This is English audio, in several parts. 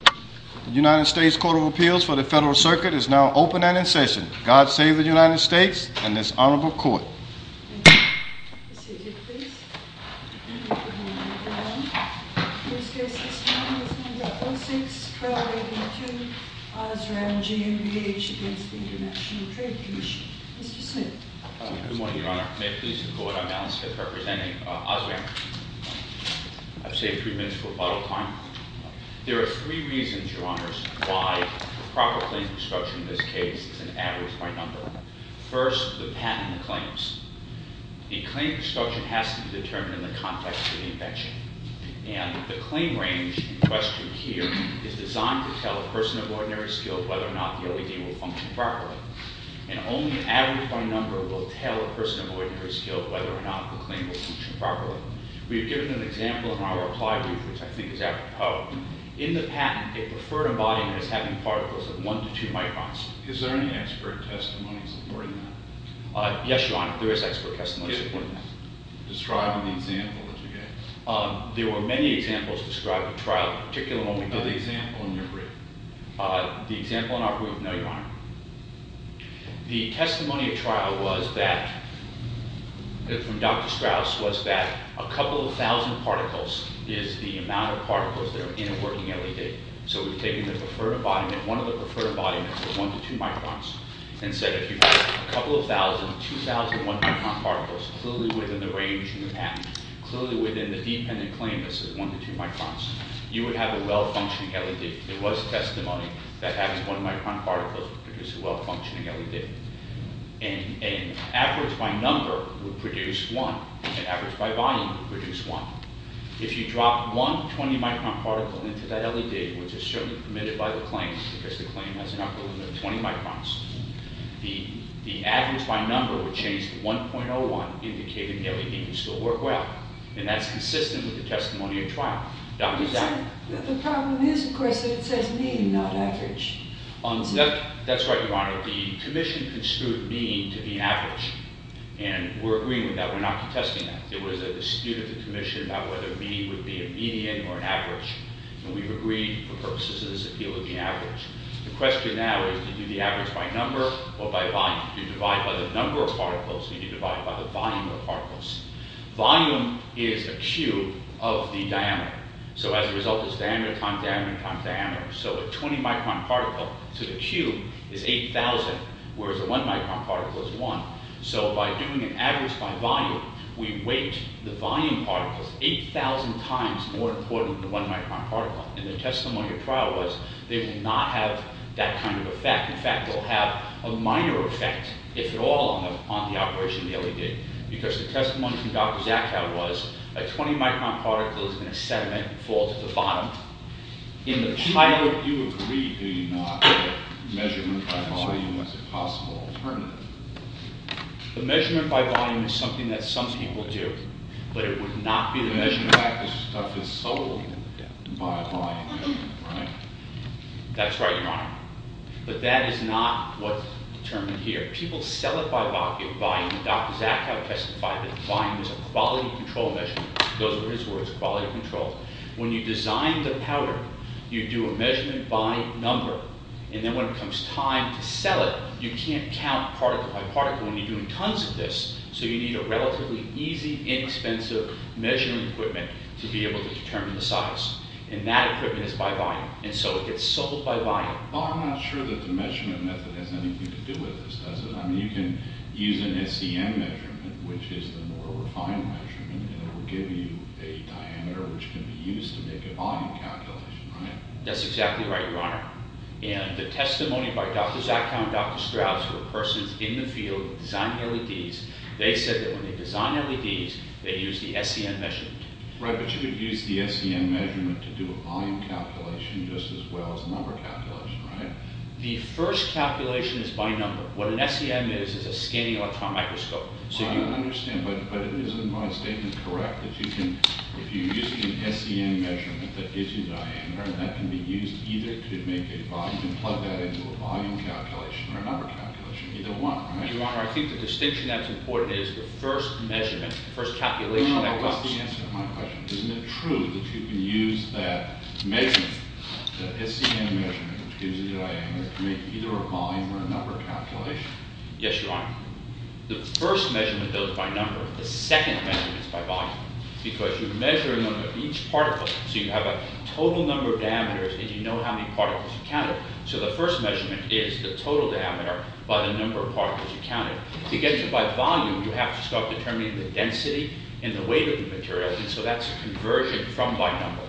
The United States Court of Appeals for the Federal Circuit is now open and in session. God save the United States and this honorable court. Thank you. The seated, please. I'm going to call the roll. First case this morning is number 06-1282, Osram GMBH v. International Trade Commission. Mr. Smith. Good morning, Your Honor. May it please the Court, I'm Alex Smith, representing Osram. I've saved three minutes for a bottle of wine. There are three reasons, Your Honors, why proper claim construction in this case is an average by number. First, the patent claims. The claim construction has to be determined in the context of the invention. And the claim range in question here is designed to tell a person of ordinary skill whether or not the LED will function properly. And only an average by number will tell a person of ordinary skill whether or not the claim will function properly. We have given an example in our applied group, which I think is after Poe. In the patent, a preferred embodiment is having particles of one to two microns. Is there any expert testimony supporting that? Yes, Your Honor, there is expert testimony supporting that. Describe the example that you gave. There were many examples described at trial, particularly when we did the— Not the example in your group. The example in our group, no, Your Honor. The testimony at trial was that, from Dr. Strauss, was that a couple of thousand particles is the amount of particles that are in a working LED. So we've taken the preferred embodiment, one of the preferred embodiments of one to two microns, and said if you have a couple of thousand, two thousand one-micron particles, clearly within the range in the patent, clearly within the dependent claim that says one to two microns, there was testimony that having one-micron particles would produce a well-functioning LED. An average by number would produce one. An average by volume would produce one. If you drop one 20-micron particle into that LED, which is certainly permitted by the claim, because the claim has an upper limit of 20 microns, the average by number would change to 1.01, indicating the LED can still work well. And that's consistent with the testimony at trial. The problem is, of course, that it says mean, not average. That's right, Your Honor. The commission construed mean to be average. And we're agreeing with that. We're not contesting that. It was a dispute of the commission about whether mean would be a median or an average. And we've agreed, for purposes of this appeal, it would be average. The question now is do you do the average by number or by volume? Do you divide by the number of particles, or do you divide by the volume of particles? Volume is a cube of the diameter. So as a result, it's diameter times diameter times diameter. So a 20-micron particle to the cube is 8,000, whereas a 1-micron particle is 1. So by doing an average by volume, we weight the volume particles 8,000 times more important than the 1-micron particle. And the testimony at trial was they will not have that kind of effect. In fact, they'll have a minor effect, if at all, on the operation of the LED, because the testimony from Dr. Zakow was a 20-micron particle is going to sediment and fall to the bottom. In the pilot... You agree, do you not, that measurement by volume is a possible alternative? The measurement by volume is something that some people do, but it would not be the measurement... The measurement by volume stuff is sold by volume measurement, right? That's right, Your Honor. But that is not what's determined here. People sell it by volume, and Dr. Zakow testified that volume is a quality control measurement. Those were his words, quality control. When you design the powder, you do a measurement by number. And then when it comes time to sell it, you can't count particle by particle, and you're doing tons of this. So you need a relatively easy, inexpensive measuring equipment to be able to determine the size. And that equipment is by volume, and so it gets sold by volume. Well, I'm not sure that the measurement method has anything to do with this, does it? I mean, you can use an SEM measurement, which is the more refined measurement, and it will give you a diameter which can be used to make a volume calculation, right? That's exactly right, Your Honor. And the testimony by Dr. Zakow and Dr. Strauss were persons in the field designing LEDs. They said that when they design LEDs, they use the SEM measurement. Right, but you could use the SEM measurement to do a volume calculation just as well as a number calculation, right? The first calculation is by number. What an SEM is is a scanning electron microscope. I understand, but isn't my statement correct that you can, if you're using an SEM measurement that gives you diameter, and that can be used either to make a volume calculation or a number calculation, either one, right? Your Honor, I think the distinction that's important is the first measurement, the first calculation that comes. That's the answer to my question. Isn't it true that you can use that measurement, that SEM measurement, which gives you diameter, to make either a volume or a number calculation? Yes, Your Honor. The first measurement does by number. The second measurement is by volume because you're measuring each particle. So you have a total number of diameters, and you know how many particles you counted. To get to by volume, you have to start determining the density and the weight of the material, and so that's a conversion from by number.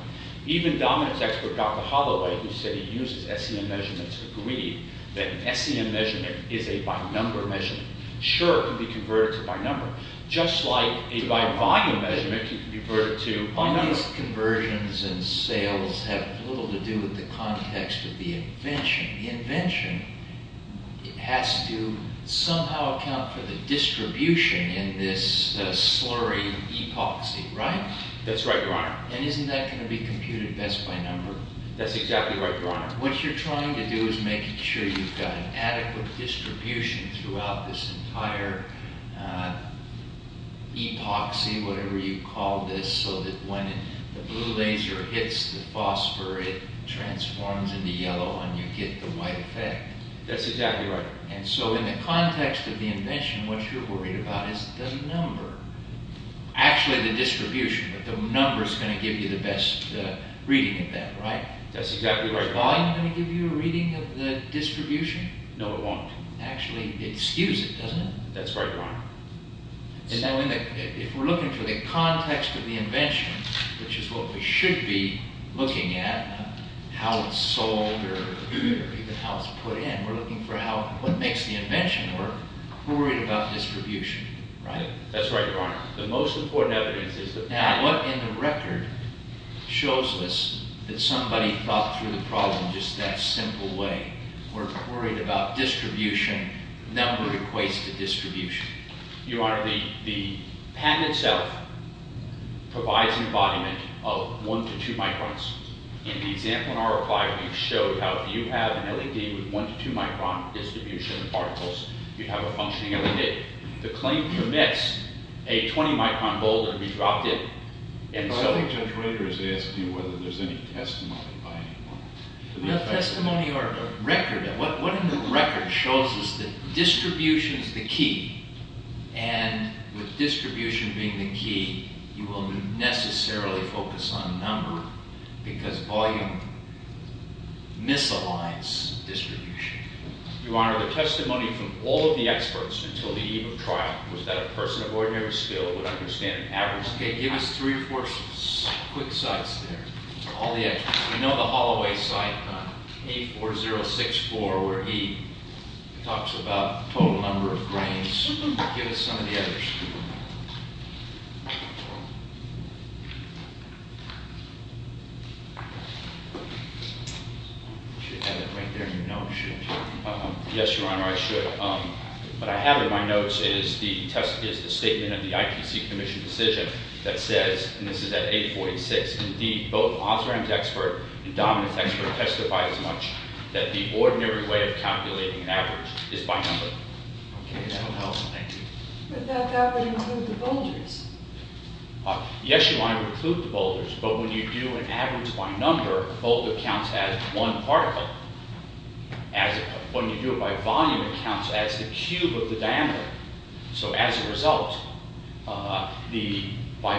Even dominance expert Dr. Holloway, who said he uses SEM measurements, agreed that an SEM measurement is a by number measurement. Sure, it can be converted to by number. Just like a by volume measurement can be converted to by number. All these conversions and sales have little to do with the context of the invention. The invention has to somehow account for the distribution in this slurry epoxy, right? That's right, Your Honor. And isn't that going to be computed best by number? That's exactly right, Your Honor. What you're trying to do is making sure you've got an adequate distribution throughout this entire epoxy, whatever you call this, so that when the blue laser hits the phosphor, it transforms into yellow, and you get the white effect. That's exactly right. And so in the context of the invention, what you're worried about is the number. Actually, the distribution, but the number is going to give you the best reading of that, right? That's exactly right, Your Honor. Is volume going to give you a reading of the distribution? No, it won't. Actually, it skews it, doesn't it? If we're looking for the context of the invention, which is what we should be looking at, how it's sold or even how it's put in, we're looking for what makes the invention work. We're worried about distribution, right? That's right, Your Honor. The most important evidence is the patent. Now, what in the record shows us that somebody thought through the problem just that simple way? We're worried about distribution, number equates to distribution. Your Honor, the patent itself provides an embodiment of 1 to 2 microns. In the example in our reply, we've showed how if you have an LED with 1 to 2 micron distribution of particles, you'd have a functioning LED. The claim permits a 20 micron bulb to be dropped in. But I think Judge Rader is asking whether there's any testimony by anyone. No testimony or record. What in the record shows us that distribution is the key? And with distribution being the key, you will necessarily focus on number because volume misaligns distribution. Your Honor, the testimony from all of the experts until the eve of trial was that a person of ordinary skill would understand an average... Okay, give us three or four quick sites there, all the experts. We know the Holloway site, 84064, where he talks about total number of grains. Give us some of the others. You should have it right there in your notes, shouldn't you? Yes, Your Honor, I should. What I have in my notes is the statement of the IPC Commission decision that says, and this is at 8486, indeed, both Osram's expert and Dominic's expert testify as much that the ordinary way of calculating an average is by number. Okay, that will help. Thank you. But that would include the boulders. Yes, Your Honor, it would include the boulders, but when you do an average by number, a boulder counts as one particle. When you do it by volume, it counts as the cube of the diameter. So as a result, by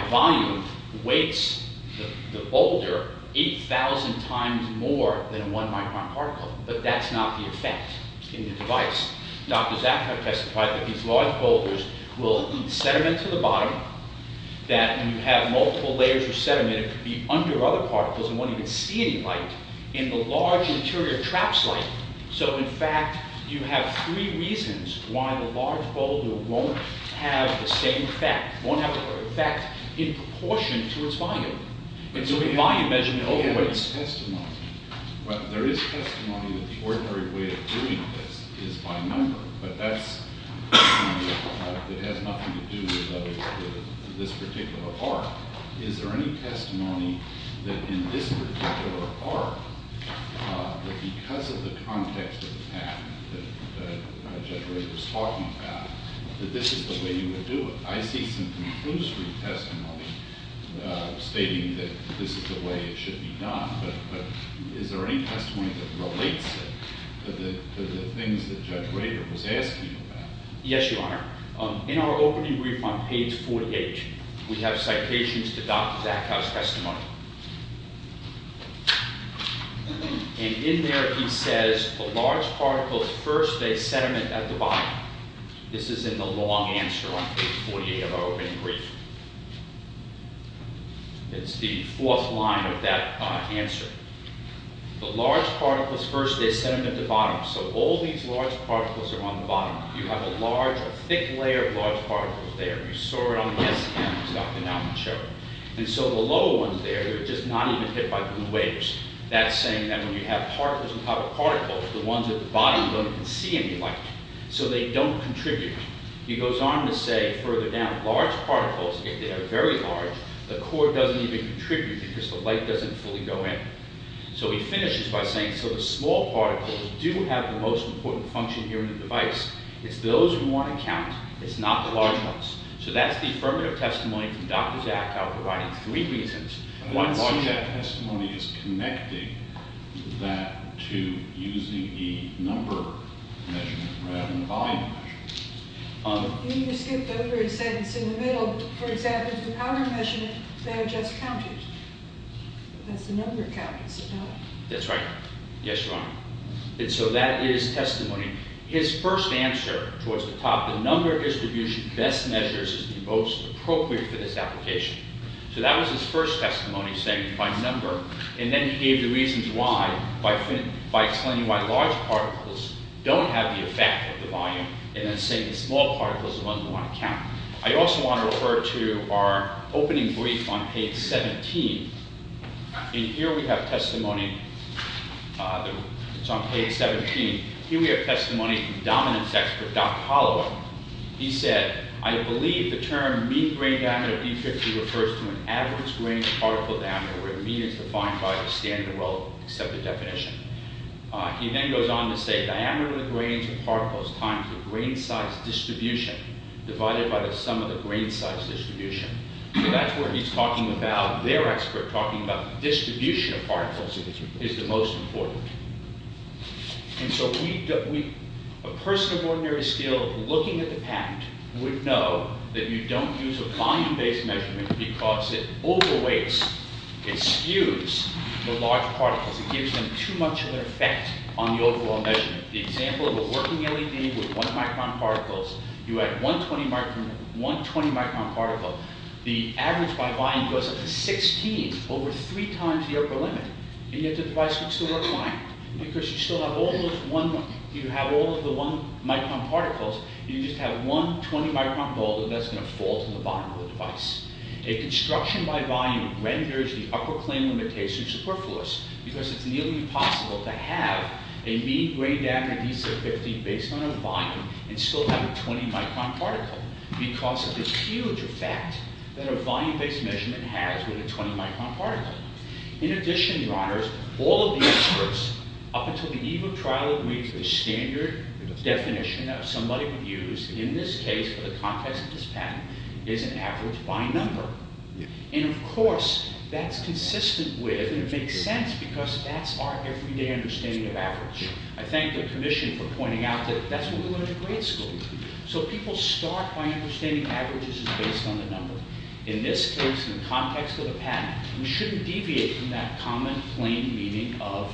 volume, the boulder weights 8,000 times more than one micron particle. But that's not the effect in the device. Dr. Zakhar testified that these large boulders will eat sediment to the bottom, that when you have multiple layers of sediment, it could be under other particles and won't even see any light in the large interior traps light. So in fact, you have three reasons why the large boulder won't have the same effect, won't have the effect in proportion to its volume. And so the volume measurement overweighs. There is testimony that the ordinary way of doing this is by number, but that has nothing to do with this particular part. Is there any testimony that in this particular part, that because of the context of the patent that Judge Rader was talking about, that this is the way you would do it? I see some conclusory testimony stating that this is the way it should be done, but is there any testimony that relates it to the things that Judge Rader was asking about? Yes, Your Honor. In our opening brief on page 48, we have citations to Dr. Zakhar's testimony. And in there he says, the large particles first, they sediment at the bottom. This is in the long answer on page 48 of our opening brief. It's the fourth line of that answer. The large particles first, they sediment at the bottom. So all these large particles are on the bottom. You have a large, a thick layer of large particles there. You saw it on the S-cam, Dr. Nelson showed. And so the lower ones there, they're just not even hit by the waves. That's saying that when you have particles on top of particles, the ones at the bottom don't even see any light. So they don't contribute. He goes on to say, further down, large particles, if they are very large, the core doesn't even contribute because the light doesn't fully go in. So he finishes by saying, so the small particles do have the most important function here in the device, it's those who want to count, it's not the large ones. So that's the affirmative testimony from Dr. Jack, I'll provide it in three reasons. I don't know why that testimony is connecting that to using the number measurement rather than the volume measurement. You skipped over a sentence in the middle. For example, the powder measurement, they're just counted. That's the number count, it's the powder. That's right. Yes, Your Honor. And so that is testimony. His first answer, towards the top, the number distribution best measures is the most appropriate for this application. So that was his first testimony, saying by number, and then he gave the reasons why, by explaining why large particles don't have the effect of the volume, and then saying the small particles are the ones who want to count. I also want to refer to our opening brief on page 17. And here we have testimony, it's on page 17. Here we have testimony from dominance expert, Dr. Holloway. He said, I believe the term mean grain diameter of D50 refers to an average grain particle diameter where mean is defined by a standard and well-accepted definition. He then goes on to say diameter of the grains of particles times the grain size distribution divided by the sum of the grain size distribution. So that's where he's talking about, their expert talking about distribution of particles is the most important. And so a person of ordinary skill, looking at the patent, would know that you don't use a volume-based measurement because it overweights, it skews the large particles. It gives them too much of an effect on the overall measurement. The example of a working LED with 1 micron particles, you add 120 micron particles, the average volume goes up to 16, over 3 times the upper limit. And yet the device would still work fine because you still have all of the 1 micron particles, you just have one 20 micron bulb that's going to fall to the bottom of the device. A construction by volume renders the upper claim limitation superfluous because it's nearly impossible to have a mean grain diameter of D50 based on a volume and still have a 20 micron particle because of the huge effect that a volume-based measurement has with a 20 micron particle. In addition, your honors, all of the experts up until the eve of trial agreed to the standard definition that somebody would use, in this case, for the context of this patent, is an average by number. And of course, that's consistent with, and it makes sense because that's our everyday understanding of average. I thank the commission for pointing out that that's what we learned in grade school. So people start by understanding averages as based on the number. In this case, in the context of the patent, we shouldn't deviate from that common plain meaning of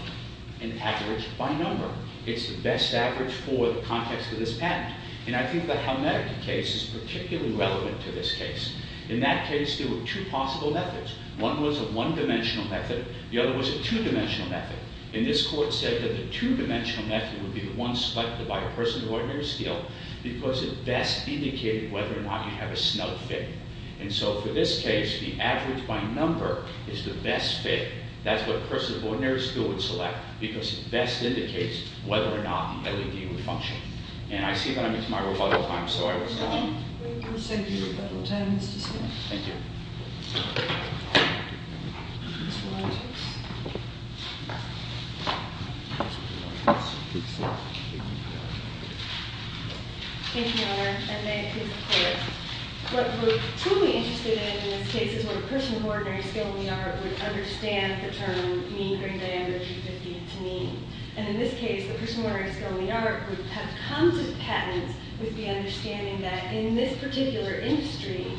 an average by number. It's the best average for the context of this patent. And I think the Halmetica case is particularly relevant to this case. In that case, there were two possible methods. One was a one-dimensional method. The other was a two-dimensional method. And this court said that the two-dimensional method would be the one selected by a person of ordinary skill because it best indicated whether or not you have a snug fit. And so for this case, the average by number is the best fit. That's what a person of ordinary skill would select because it best indicates whether or not the LED would function. And I see that I'm into my rebuttal time, so I will stop. We will send you rebuttal time, Mr. Smith. Thank you. Thank you, Your Honor. And may I please report, what we're truly interested in in this case is what a person of ordinary skill in the art would understand the term mean grain diameter of 350 into mean. And in this case, the person of ordinary skill in the art would have come to patents with the understanding that in this particular industry...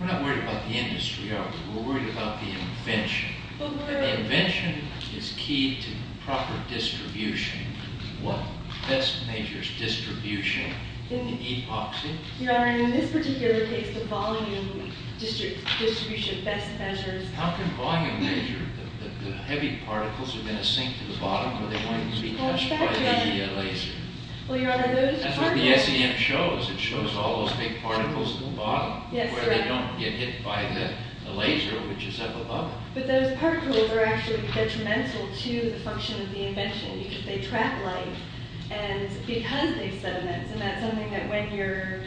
We're not worried about the industry, are we? We're worried about the invention. The invention is key to proper distribution. What best measures distribution in the epoxy? Your Honor, in this particular case, the volume distribution best measures... How can volume measure? The heavy particles are going to sink to the bottom or they're going to be touched by the laser. Well, Your Honor, those particles... That's what the SEM shows. It shows all those big particles at the bottom. Yes, correct. Where they don't get hit by the laser, which is up above it. But those particles are actually detrimental to the function of the invention because they trap light and because they're sediments. And that's something that when you're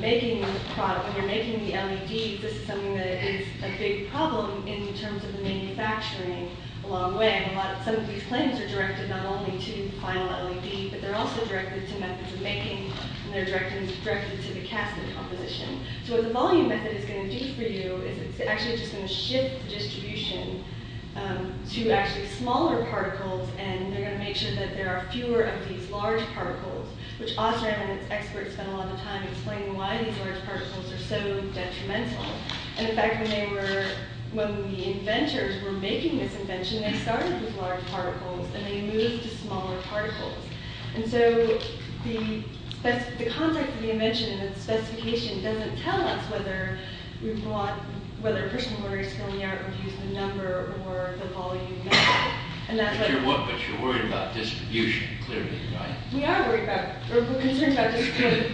making the product, when you're making the LEDs, this is something that is a big problem in terms of the manufacturing along the way. Some of these claims are directed not only to the final LED, but they're also directed to methods of making and they're directed to the casting composition. So what the volume method is going to do for you is it's actually just going to shift the distribution to actually smaller particles and they're going to make sure that there are fewer of these large particles, which OSRAM and its experts spend a lot of time explaining why these large particles are so detrimental. And in fact, when the inventors were making this invention, they started with large particles and they moved to smaller particles. And so the concept of the invention and its specification were to use the number or the volume method. But you're worried about distribution clearly, right? We are concerned about distribution.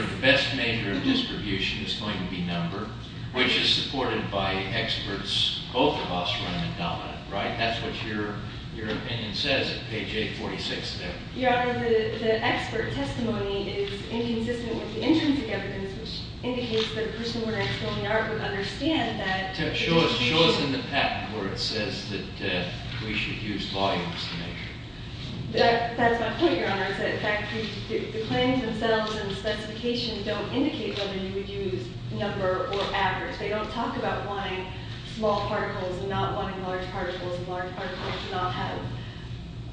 The best measure of distribution is going to be number, which is supported by experts, both of OSRAM and Dominant, right? That's what your opinion says at page 846 there. Your Honor, the expert testimony is inconsistent with the intrinsic evidence, which indicates that a person who would actually only argue and understand that... Show us in the patent where it says that we should use volumes to measure. That's my point, Your Honor. In fact, the claims themselves and the specification don't indicate whether you would use number or average. They don't talk about wanting small particles and not wanting large particles and large particles not have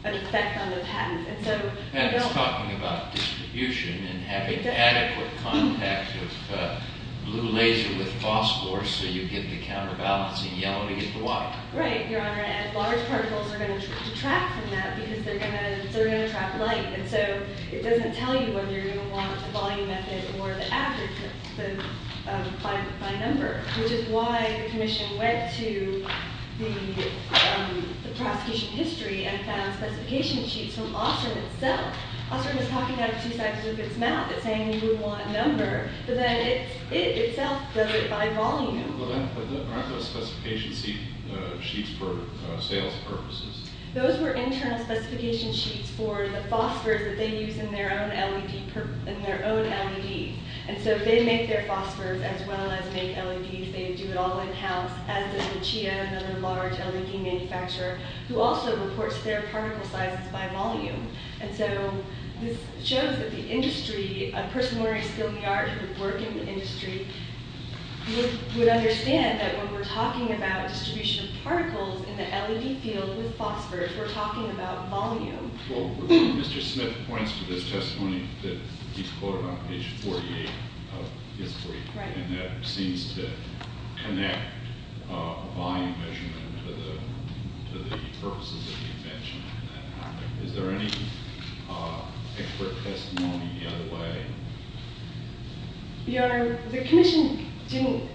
an effect on the patent. The patent is talking about distribution and having adequate contact with blue laser with phosphor so you get the counterbalancing yellow to get the white. Right, Your Honor, and large particles are going to detract from that because they're going to trap light. And so it doesn't tell you whether you're going to want the volume method or the average by number, which is why the Commission went to the prosecution history and found specification sheets from OSRAM itself. OSRAM is talking out of two sides of its mouth. It's saying we want number, but then it itself does it by volume. But aren't those specification sheets for sales purposes? Those were internal specification sheets for the phosphors that they use in their own LEDs. And so they make their phosphors as well as make LEDs. They do it all in-house, as does the CHIA, another large LED manufacturer, who also reports their particle sizes by volume. And so this shows that the industry, a person with a learning skill in the art who would work in the industry, would understand that when we're talking about distribution of particles in the LED field with phosphors, we're talking about volume. Well, Mr. Smith points to this testimony that he's quoted on page 48 of his brief, and that seems to connect volume measurement to the purposes of the invention. Is there any expert testimony the other way? Your Honor, the commission didn't...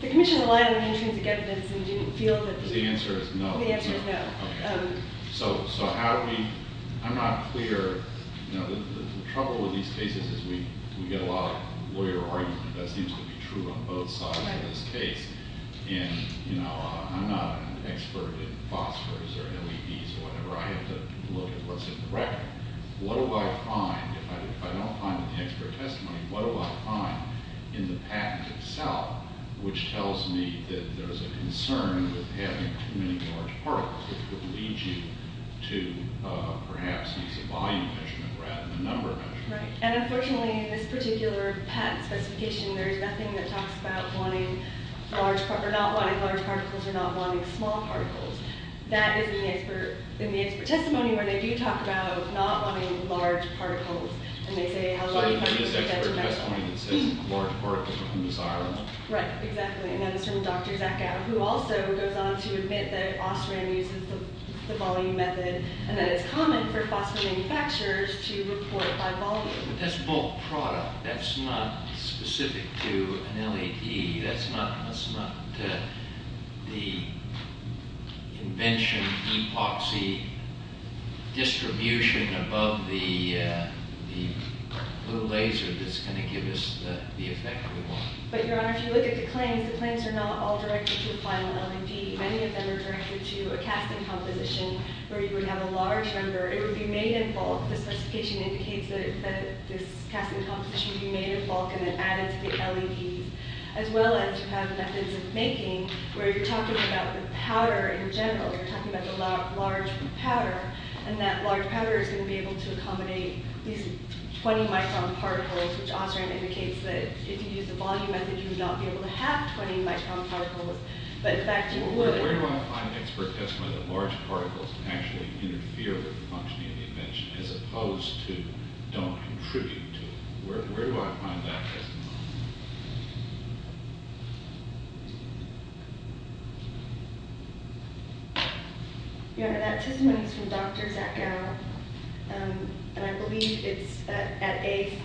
The commission relied on intrinsic evidence and didn't feel that... The answer is no. The answer is no. Okay. So how do we... I'm not clear. You know, the trouble with these cases is we get a lot of lawyer argument that that seems to be true on both sides of this case. And, you know, I'm not an expert in phosphors or LEDs or whatever. I have to look at what's in the record. What do I find? If I don't find an expert testimony, what do I find in the patent itself, which tells me that there's a concern with having too many large particles, which would lead you to perhaps use a volume measurement rather than a number measurement? Right. And unfortunately, in this particular patent specification, there is nothing that talks about wanting large particles or not wanting large particles or not wanting small particles. That is in the expert testimony where they do talk about not wanting large particles, and they say how large particles... So there is an expert testimony that says large particles are undesirable. Right. Exactly. And that is from Dr. Zakow, who also goes on to admit that Austrian uses the volume method and that it's common for phosphor manufacturers to report by volume. But that's a bulk product. That's not specific to an LED. That's not the invention, epoxy distribution above the laser that's going to give us the effect we want. But, Your Honor, if you look at the claims, the claims are not all directed to the final LED. Many of them are directed to a casting composition where you would have a large number. It would be made in bulk. This specification indicates that this casting composition would be made in bulk and then added to the LEDs, as well as you have methods of making where you're talking about the powder in general. You're talking about the large powder, and that large powder is going to be able to accommodate these 20 micron particles, which Austrian indicates that if you use the volume method, you would not be able to have 20 micron particles, but in fact you would. Where do I find expert testimony that large particles can actually interfere with the functioning of the invention as opposed to don't contribute to it? Where do I find that testimony? Your Honor, that testimony is from Dr. Zach Gow. And I believe it's at A,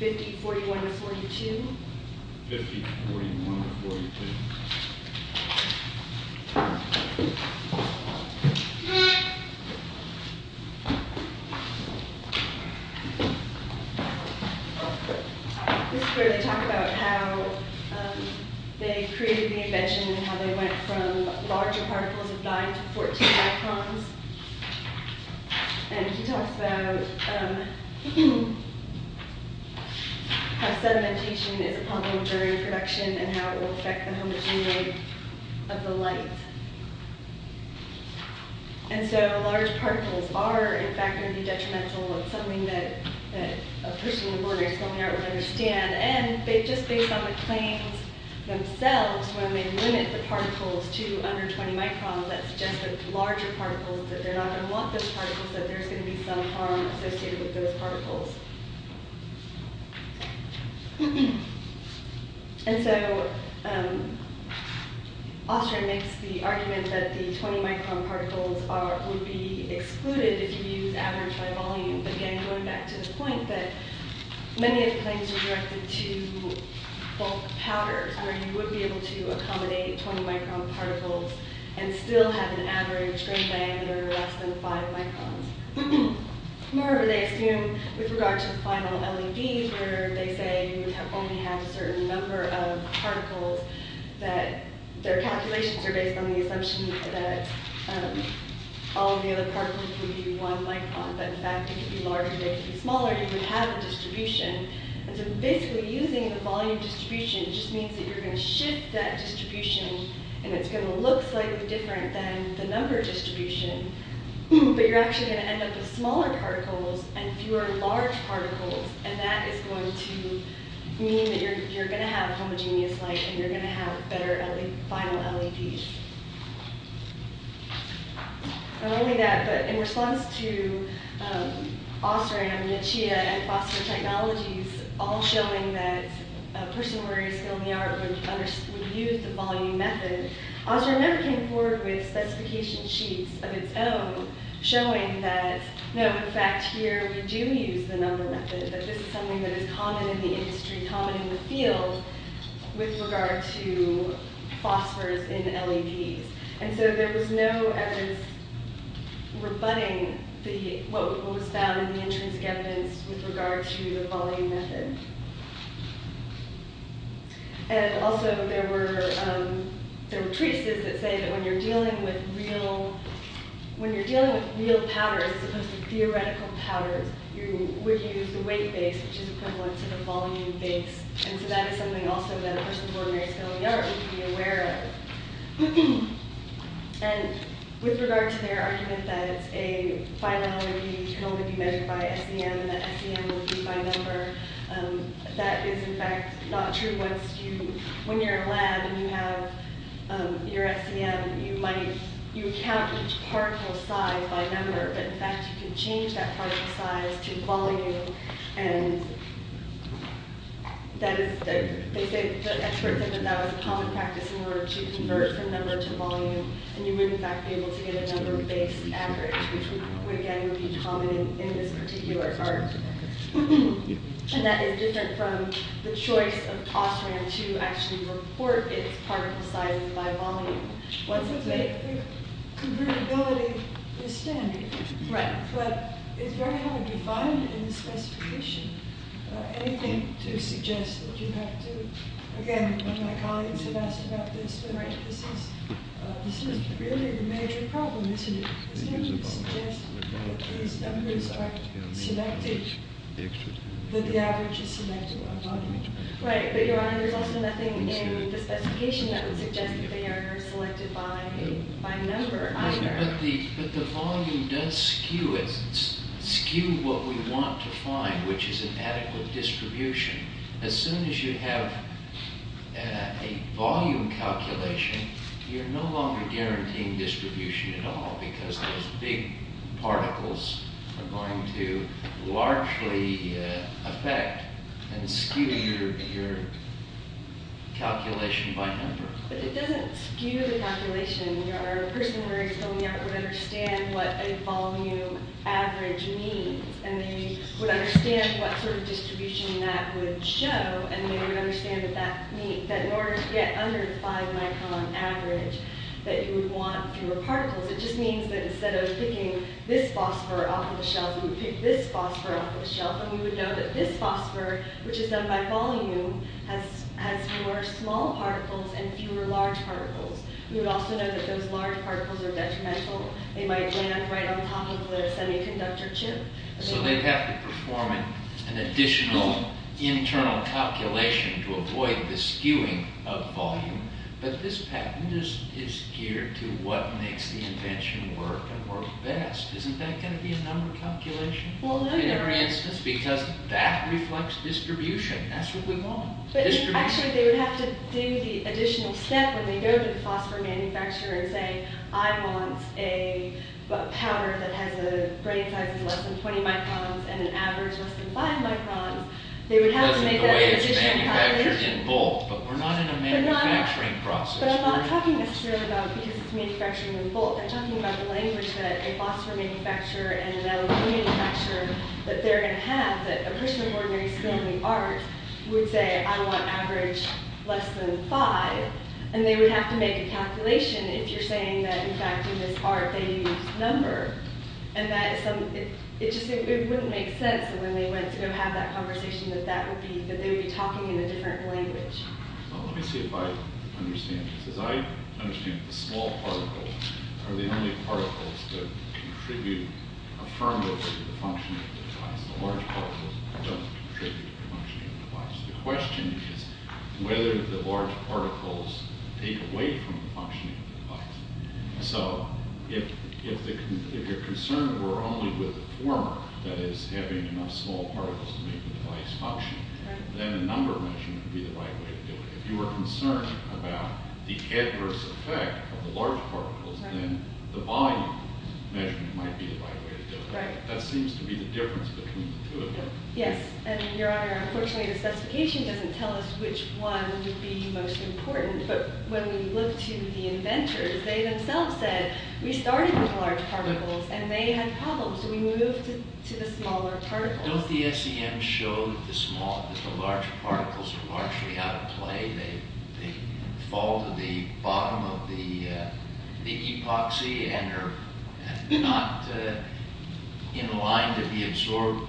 50, 41, or 42. 50, 41, or 42. This is where they talk about how they created the invention and how they went from larger particles of dye to 14 microns. And he talks about how sedimentation is a problem during production and how it will affect the homogeneity of the light. And so large particles are, in fact, going to be detrimental. It's something that a person on the Board of Examiners would understand. And just based on the claims themselves, when they limit the particles to under 20 microns, that suggests that larger particles, that they're not going to want those particles, that there's going to be some harm associated with those particles. And so Ostrand makes the argument that the 20 micron particles would be excluded if you used average by volume. But again, going back to the point that many of the claims are directed to bulk powders where you would be able to accommodate 20 micron particles and still have an average grain diameter of less than 5 microns. Moreover, they assume, with regard to the final LED, where they say you would only have a certain number of particles, that their calculations are based on the assumption that all of the other particles would be one micron, but in fact it could be larger, it could be smaller, you would have a distribution. And so basically using the volume distribution just means that you're going to shift that distribution and it's going to look slightly different than the number distribution, but you're actually going to end up with smaller particles and fewer large particles, and that is going to mean that you're going to have homogeneous light and you're going to have better final LEDs. Not only that, but in response to Ostrand and Nietzsche and phosphor technologies all showing that a person with a skill in the art would use the volume method, Ostrand never came forward with specification sheets of its own showing that, no, in fact here we do use the number method, that this is something that is common in the industry, common in the field with regard to phosphors in LEDs. And so there was no evidence rebutting what was found in the intrinsic evidence with regard to the volume method. And also there were treatises that say that when you're dealing with real powders as opposed to theoretical powders, you would use the weight base, which is equivalent to the volume base, and so that is something also that a person with ordinary skill in the art would be aware of. And with regard to their argument that a final LED can only be measured by SEM and that SEM will be by number, that is in fact not true. When you're in a lab and you have your SEM, you count each particle size by number, but in fact you can change that particle size to volume, and that is, they say, the experts said that that was common practice in order to convert from number to volume, and you would in fact be able to get a number-based average, which again would be common in this particular art. And that is different from the choice of Austrian to actually report its particle size by volume. But the convertibility is standard. Right. But it's very hard to find in the specification anything to suggest that you have to, again, one of my colleagues had asked about this, this is really the major problem, isn't it? It doesn't suggest that these numbers are selected, that the average is selected by volume. Right, but Your Honor, there's also nothing in the specification that would suggest that they are selected by number either. But the volume does skew what we want to find, which is an adequate distribution. As soon as you have a volume calculation, you're no longer guaranteeing distribution at all because those big particles are going to largely affect and skew your calculation by number. But it doesn't skew the calculation. Your Honor, a person worried so many hours would understand what a volume average means, and they would understand what sort of distribution that would show, and they would understand that in order to get under the 5 micron average that you would want fewer particles, it just means that instead of picking this phosphor off of the shelf, you would pick this phosphor off of the shelf, and we would know that this phosphor, which is done by volume, has more small particles and fewer large particles. We would also know that those large particles are detrimental. They might land right on top of the semiconductor chip. So they'd have to perform an additional internal calculation to avoid the skewing of volume. But this patent is geared to what makes the invention work and work best. Isn't that going to be a number calculation in every instance? Because that reflects distribution. That's what we want, distribution. Actually, they would have to do the additional step when they go to the phosphor manufacturer and say, I want a powder that has a grain size of less than 20 microns and an average less than 5 microns. They would have to make that additional calculation. But we're not in a manufacturing process. But I'm not talking necessarily about because it's manufacturing in bulk. I'm talking about the language that a phosphor manufacturer and an LED manufacturer, that they're going to have, that a person of ordinary skill in the art, would say, I want average less than 5. And they would have to make a calculation if you're saying that, in fact, in this art, they use number. And it just wouldn't make sense. And when they went to go have that conversation, that they would be talking in a different language. Let me see if I understand this. As I understand it, the small particles are the only particles that contribute affirmatively to the functioning of the device. The large particles don't contribute to the functioning of the device. The question is whether the large particles take away from the functioning of the device. So if your concern were only with the former, that is, having enough small particles to make the device function, then the number measurement would be the right way to do it. If you were concerned about the adverse effect of the large particles, then the volume measurement might be the right way to do it. That seems to be the difference between the two of them. Yes. And, Your Honor, unfortunately, the specification doesn't tell us which one would be most important. But when we looked to the inventors, they themselves said, we started with large particles, and they had problems. So we moved to the smaller particles. Don't the SEMs show that the large particles are largely out of play? They fall to the bottom of the epoxy and are not in line to absorb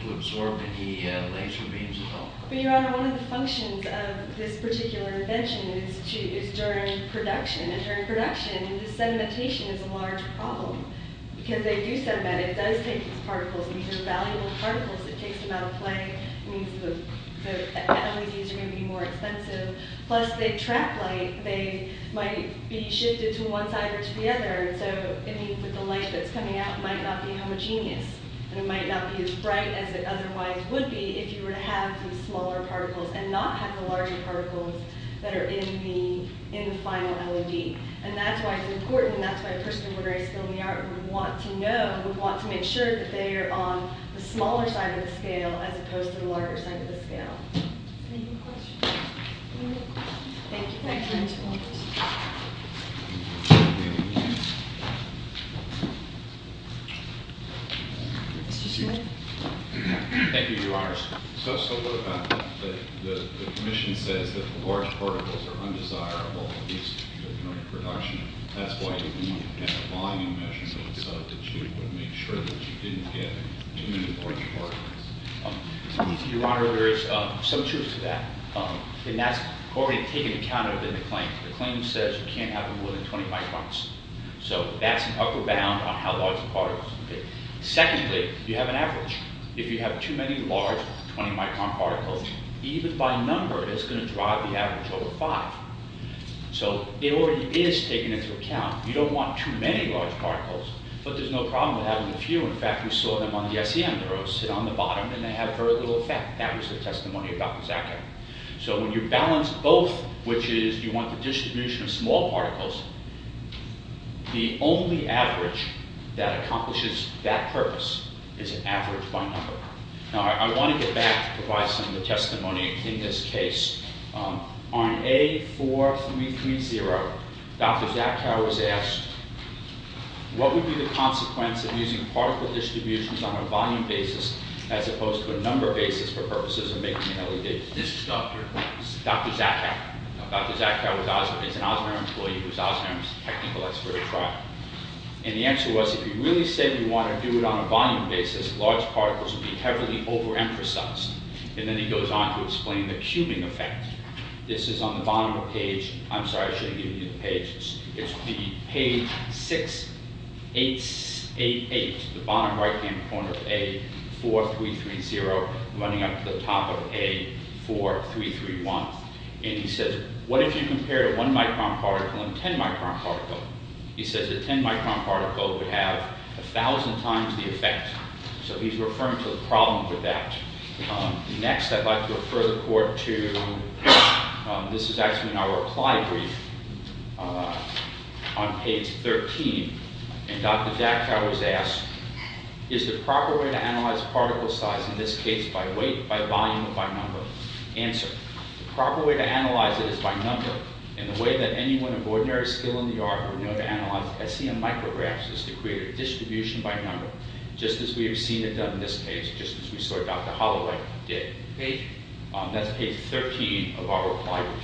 any laser beams at all? But, Your Honor, one of the functions of this particular invention is during production, and during production, the sedimentation is a large problem. Because they do sediment, it does take these particles. These are valuable particles. It takes them out of play. It means that the LEDs are going to be more expensive. Plus, they track light. They might be shifted to one side or to the other. So it means that the light that's coming out might not be homogeneous. And it might not be as bright as it otherwise would be if you were to have the smaller particles and not have the larger particles that are in the final LED. And that's why it's important. And that's why a person who is very skilled in the art would want to know and would want to make sure that they are on the smaller side of the scale as opposed to the larger side of the scale. Any questions? Any more questions? Thank you. Mr. Smith. Thank you, Your Honor. So what about the commission says that the large particles are undesirable at least during production. That's why you didn't have a blinding measure that said that you would make sure that you didn't get too many large particles. Your Honor, there is some truth to that. And that's already taken account of in the claim. The claim says you can't have more than 20 microns. So that's an upper bound on how large the particles are. Secondly, you have an average. If you have too many large 20-micron particles, even by number, it's going to drive the average over five. So it already is taken into account. You don't want too many large particles. But there's no problem with having a few. In fact, we saw them on the ICM. They sit on the bottom, and they have very little effect. That was the testimony about the Zaka. So when you balance both, which is you want the distribution of small particles, the only average that accomplishes that purpose is an average by number. Now, I want to get back to some of the testimony in this case. On A4330, Dr. Zaka was asked, what would be the consequence of using particle distributions on a volume basis as opposed to a number basis for purposes of making an LED? This is Dr. Zaka. Dr. Zaka is an Osmer employee who's Osmer's technical expert at trial. And the answer was, if you really say you want to do it on a volume basis, large particles would be heavily overemphasized. And then he goes on to explain the cubing effect. This is on the bottom of the page. I'm sorry, I shouldn't give you the page. It's the page 688, the bottom right-hand corner of A4330, running up to the top of A4331. And he says, what if you compare a 1-micron particle and a 10-micron particle? He says a 10-micron particle would have 1,000 times the effect. So he's referring to the problem with that. Next, I'd like to refer the court to this is actually in our reply brief on page 13. And Dr. Zaka was asked, is the proper way to analyze particle size, in this case by weight, by volume, or by number? Answer, the proper way to analyze it is by number. And the way that anyone of ordinary skill in the art would know to analyze SEM micrographs is to create a distribution by number, just as we have seen it done in this page, just as we saw Dr. Holloway did. That's page 13 of our reply brief.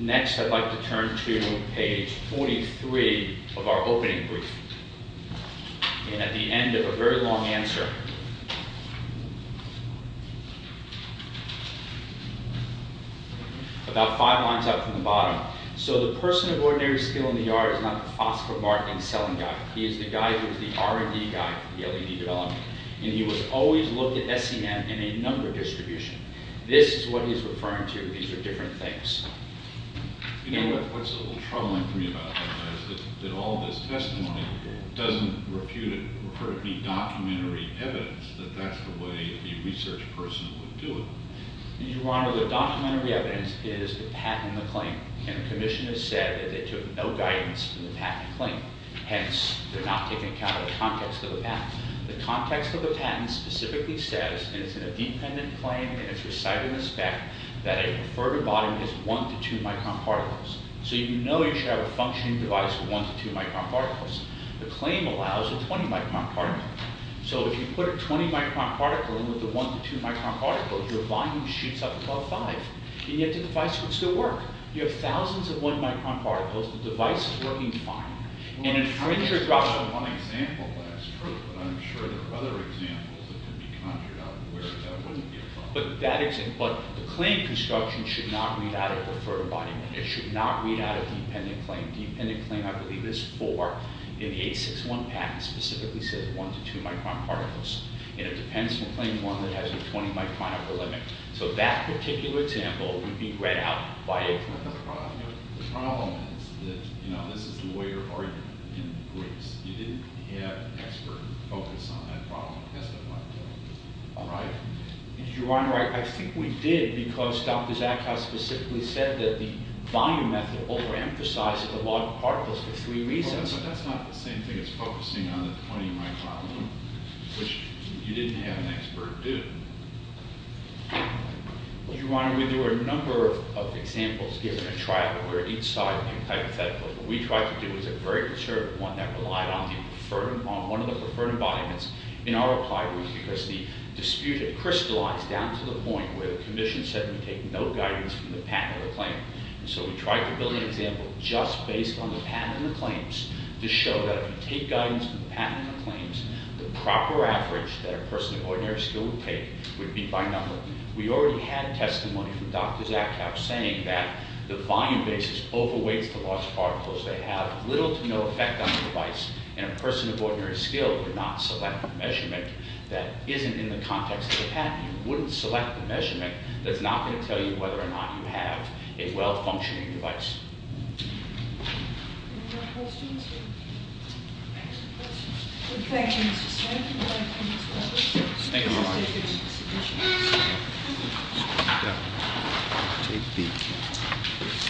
Next, I'd like to turn to page 43 of our opening brief. And at the end of a very long answer, about five lines up from the bottom. So the person of ordinary skill in the art is not the phosphomarketing selling guy. He is the guy who is the R&D guy for the LED development. And he would always look at SEM in a number distribution. This is what he's referring to. These are different things. You know, what's a little troubling for me about that is that all this testimony doesn't refer to any documentary evidence that that's the way the research person would do it. Your Honor, the documentary evidence is the patent and the claim. And the commission has said that they took no guidance from the patent and claim. Hence, they're not taking account of the context of the patent. The context of the patent specifically says, and it's in a dependent claim, and it's recited in the spec, that a preferred volume is 1 to 2 micron particles. So you know you should have a functioning device with 1 to 2 micron particles. The claim allows a 20 micron particle. So if you put a 20 micron particle in with a 1 to 2 micron particle, your volume shoots up above 5, and yet the device would still work. You have thousands of 1 micron particles. The device is working fine. Well, I saw one example last week, but I'm sure there are other examples that could be conjured up where that wouldn't be a problem. But the claim construction should not read out of a preferred volume. It should not read out of dependent claim. Dependent claim, I believe, is for an 861 patent. It specifically says 1 to 2 micron particles. And it depends on claim 1 that has a 20 micron upper limit. So that particular example would be read out by a preferred product. The problem is that, you know, this is a lawyer argument in Greece. You didn't have an expert focus on that problem and testify to it, right? Your Honor, I think we did because Dr. Zakha specifically said that the volume method overemphasizes the log particles for three reasons. But that's not the same thing as focusing on the 20 micron limit, which you didn't have an expert do. Your Honor, we do a number of examples, given a trial, where each side, hypothetically, what we tried to do was a very conservative one that relied on one of the preferred environments in our applied rules because the dispute had crystallized down to the point where the commission said we take no guidance from the patent or the claim. And so we tried to build an example just based on the patent and the claims to show that if you take guidance from the patent and the claims, the proper average that a person of ordinary skill would take would be by number. We already had testimony from Dr. Zakha saying that the volume basis overweights the large particles. They have little to no effect on the device, and a person of ordinary skill would not select a measurement that isn't in the context of the patent. You wouldn't select a measurement that's not going to tell you whether or not you have a well-functioning device. Any more questions here? Thank you, Mr. Speaker.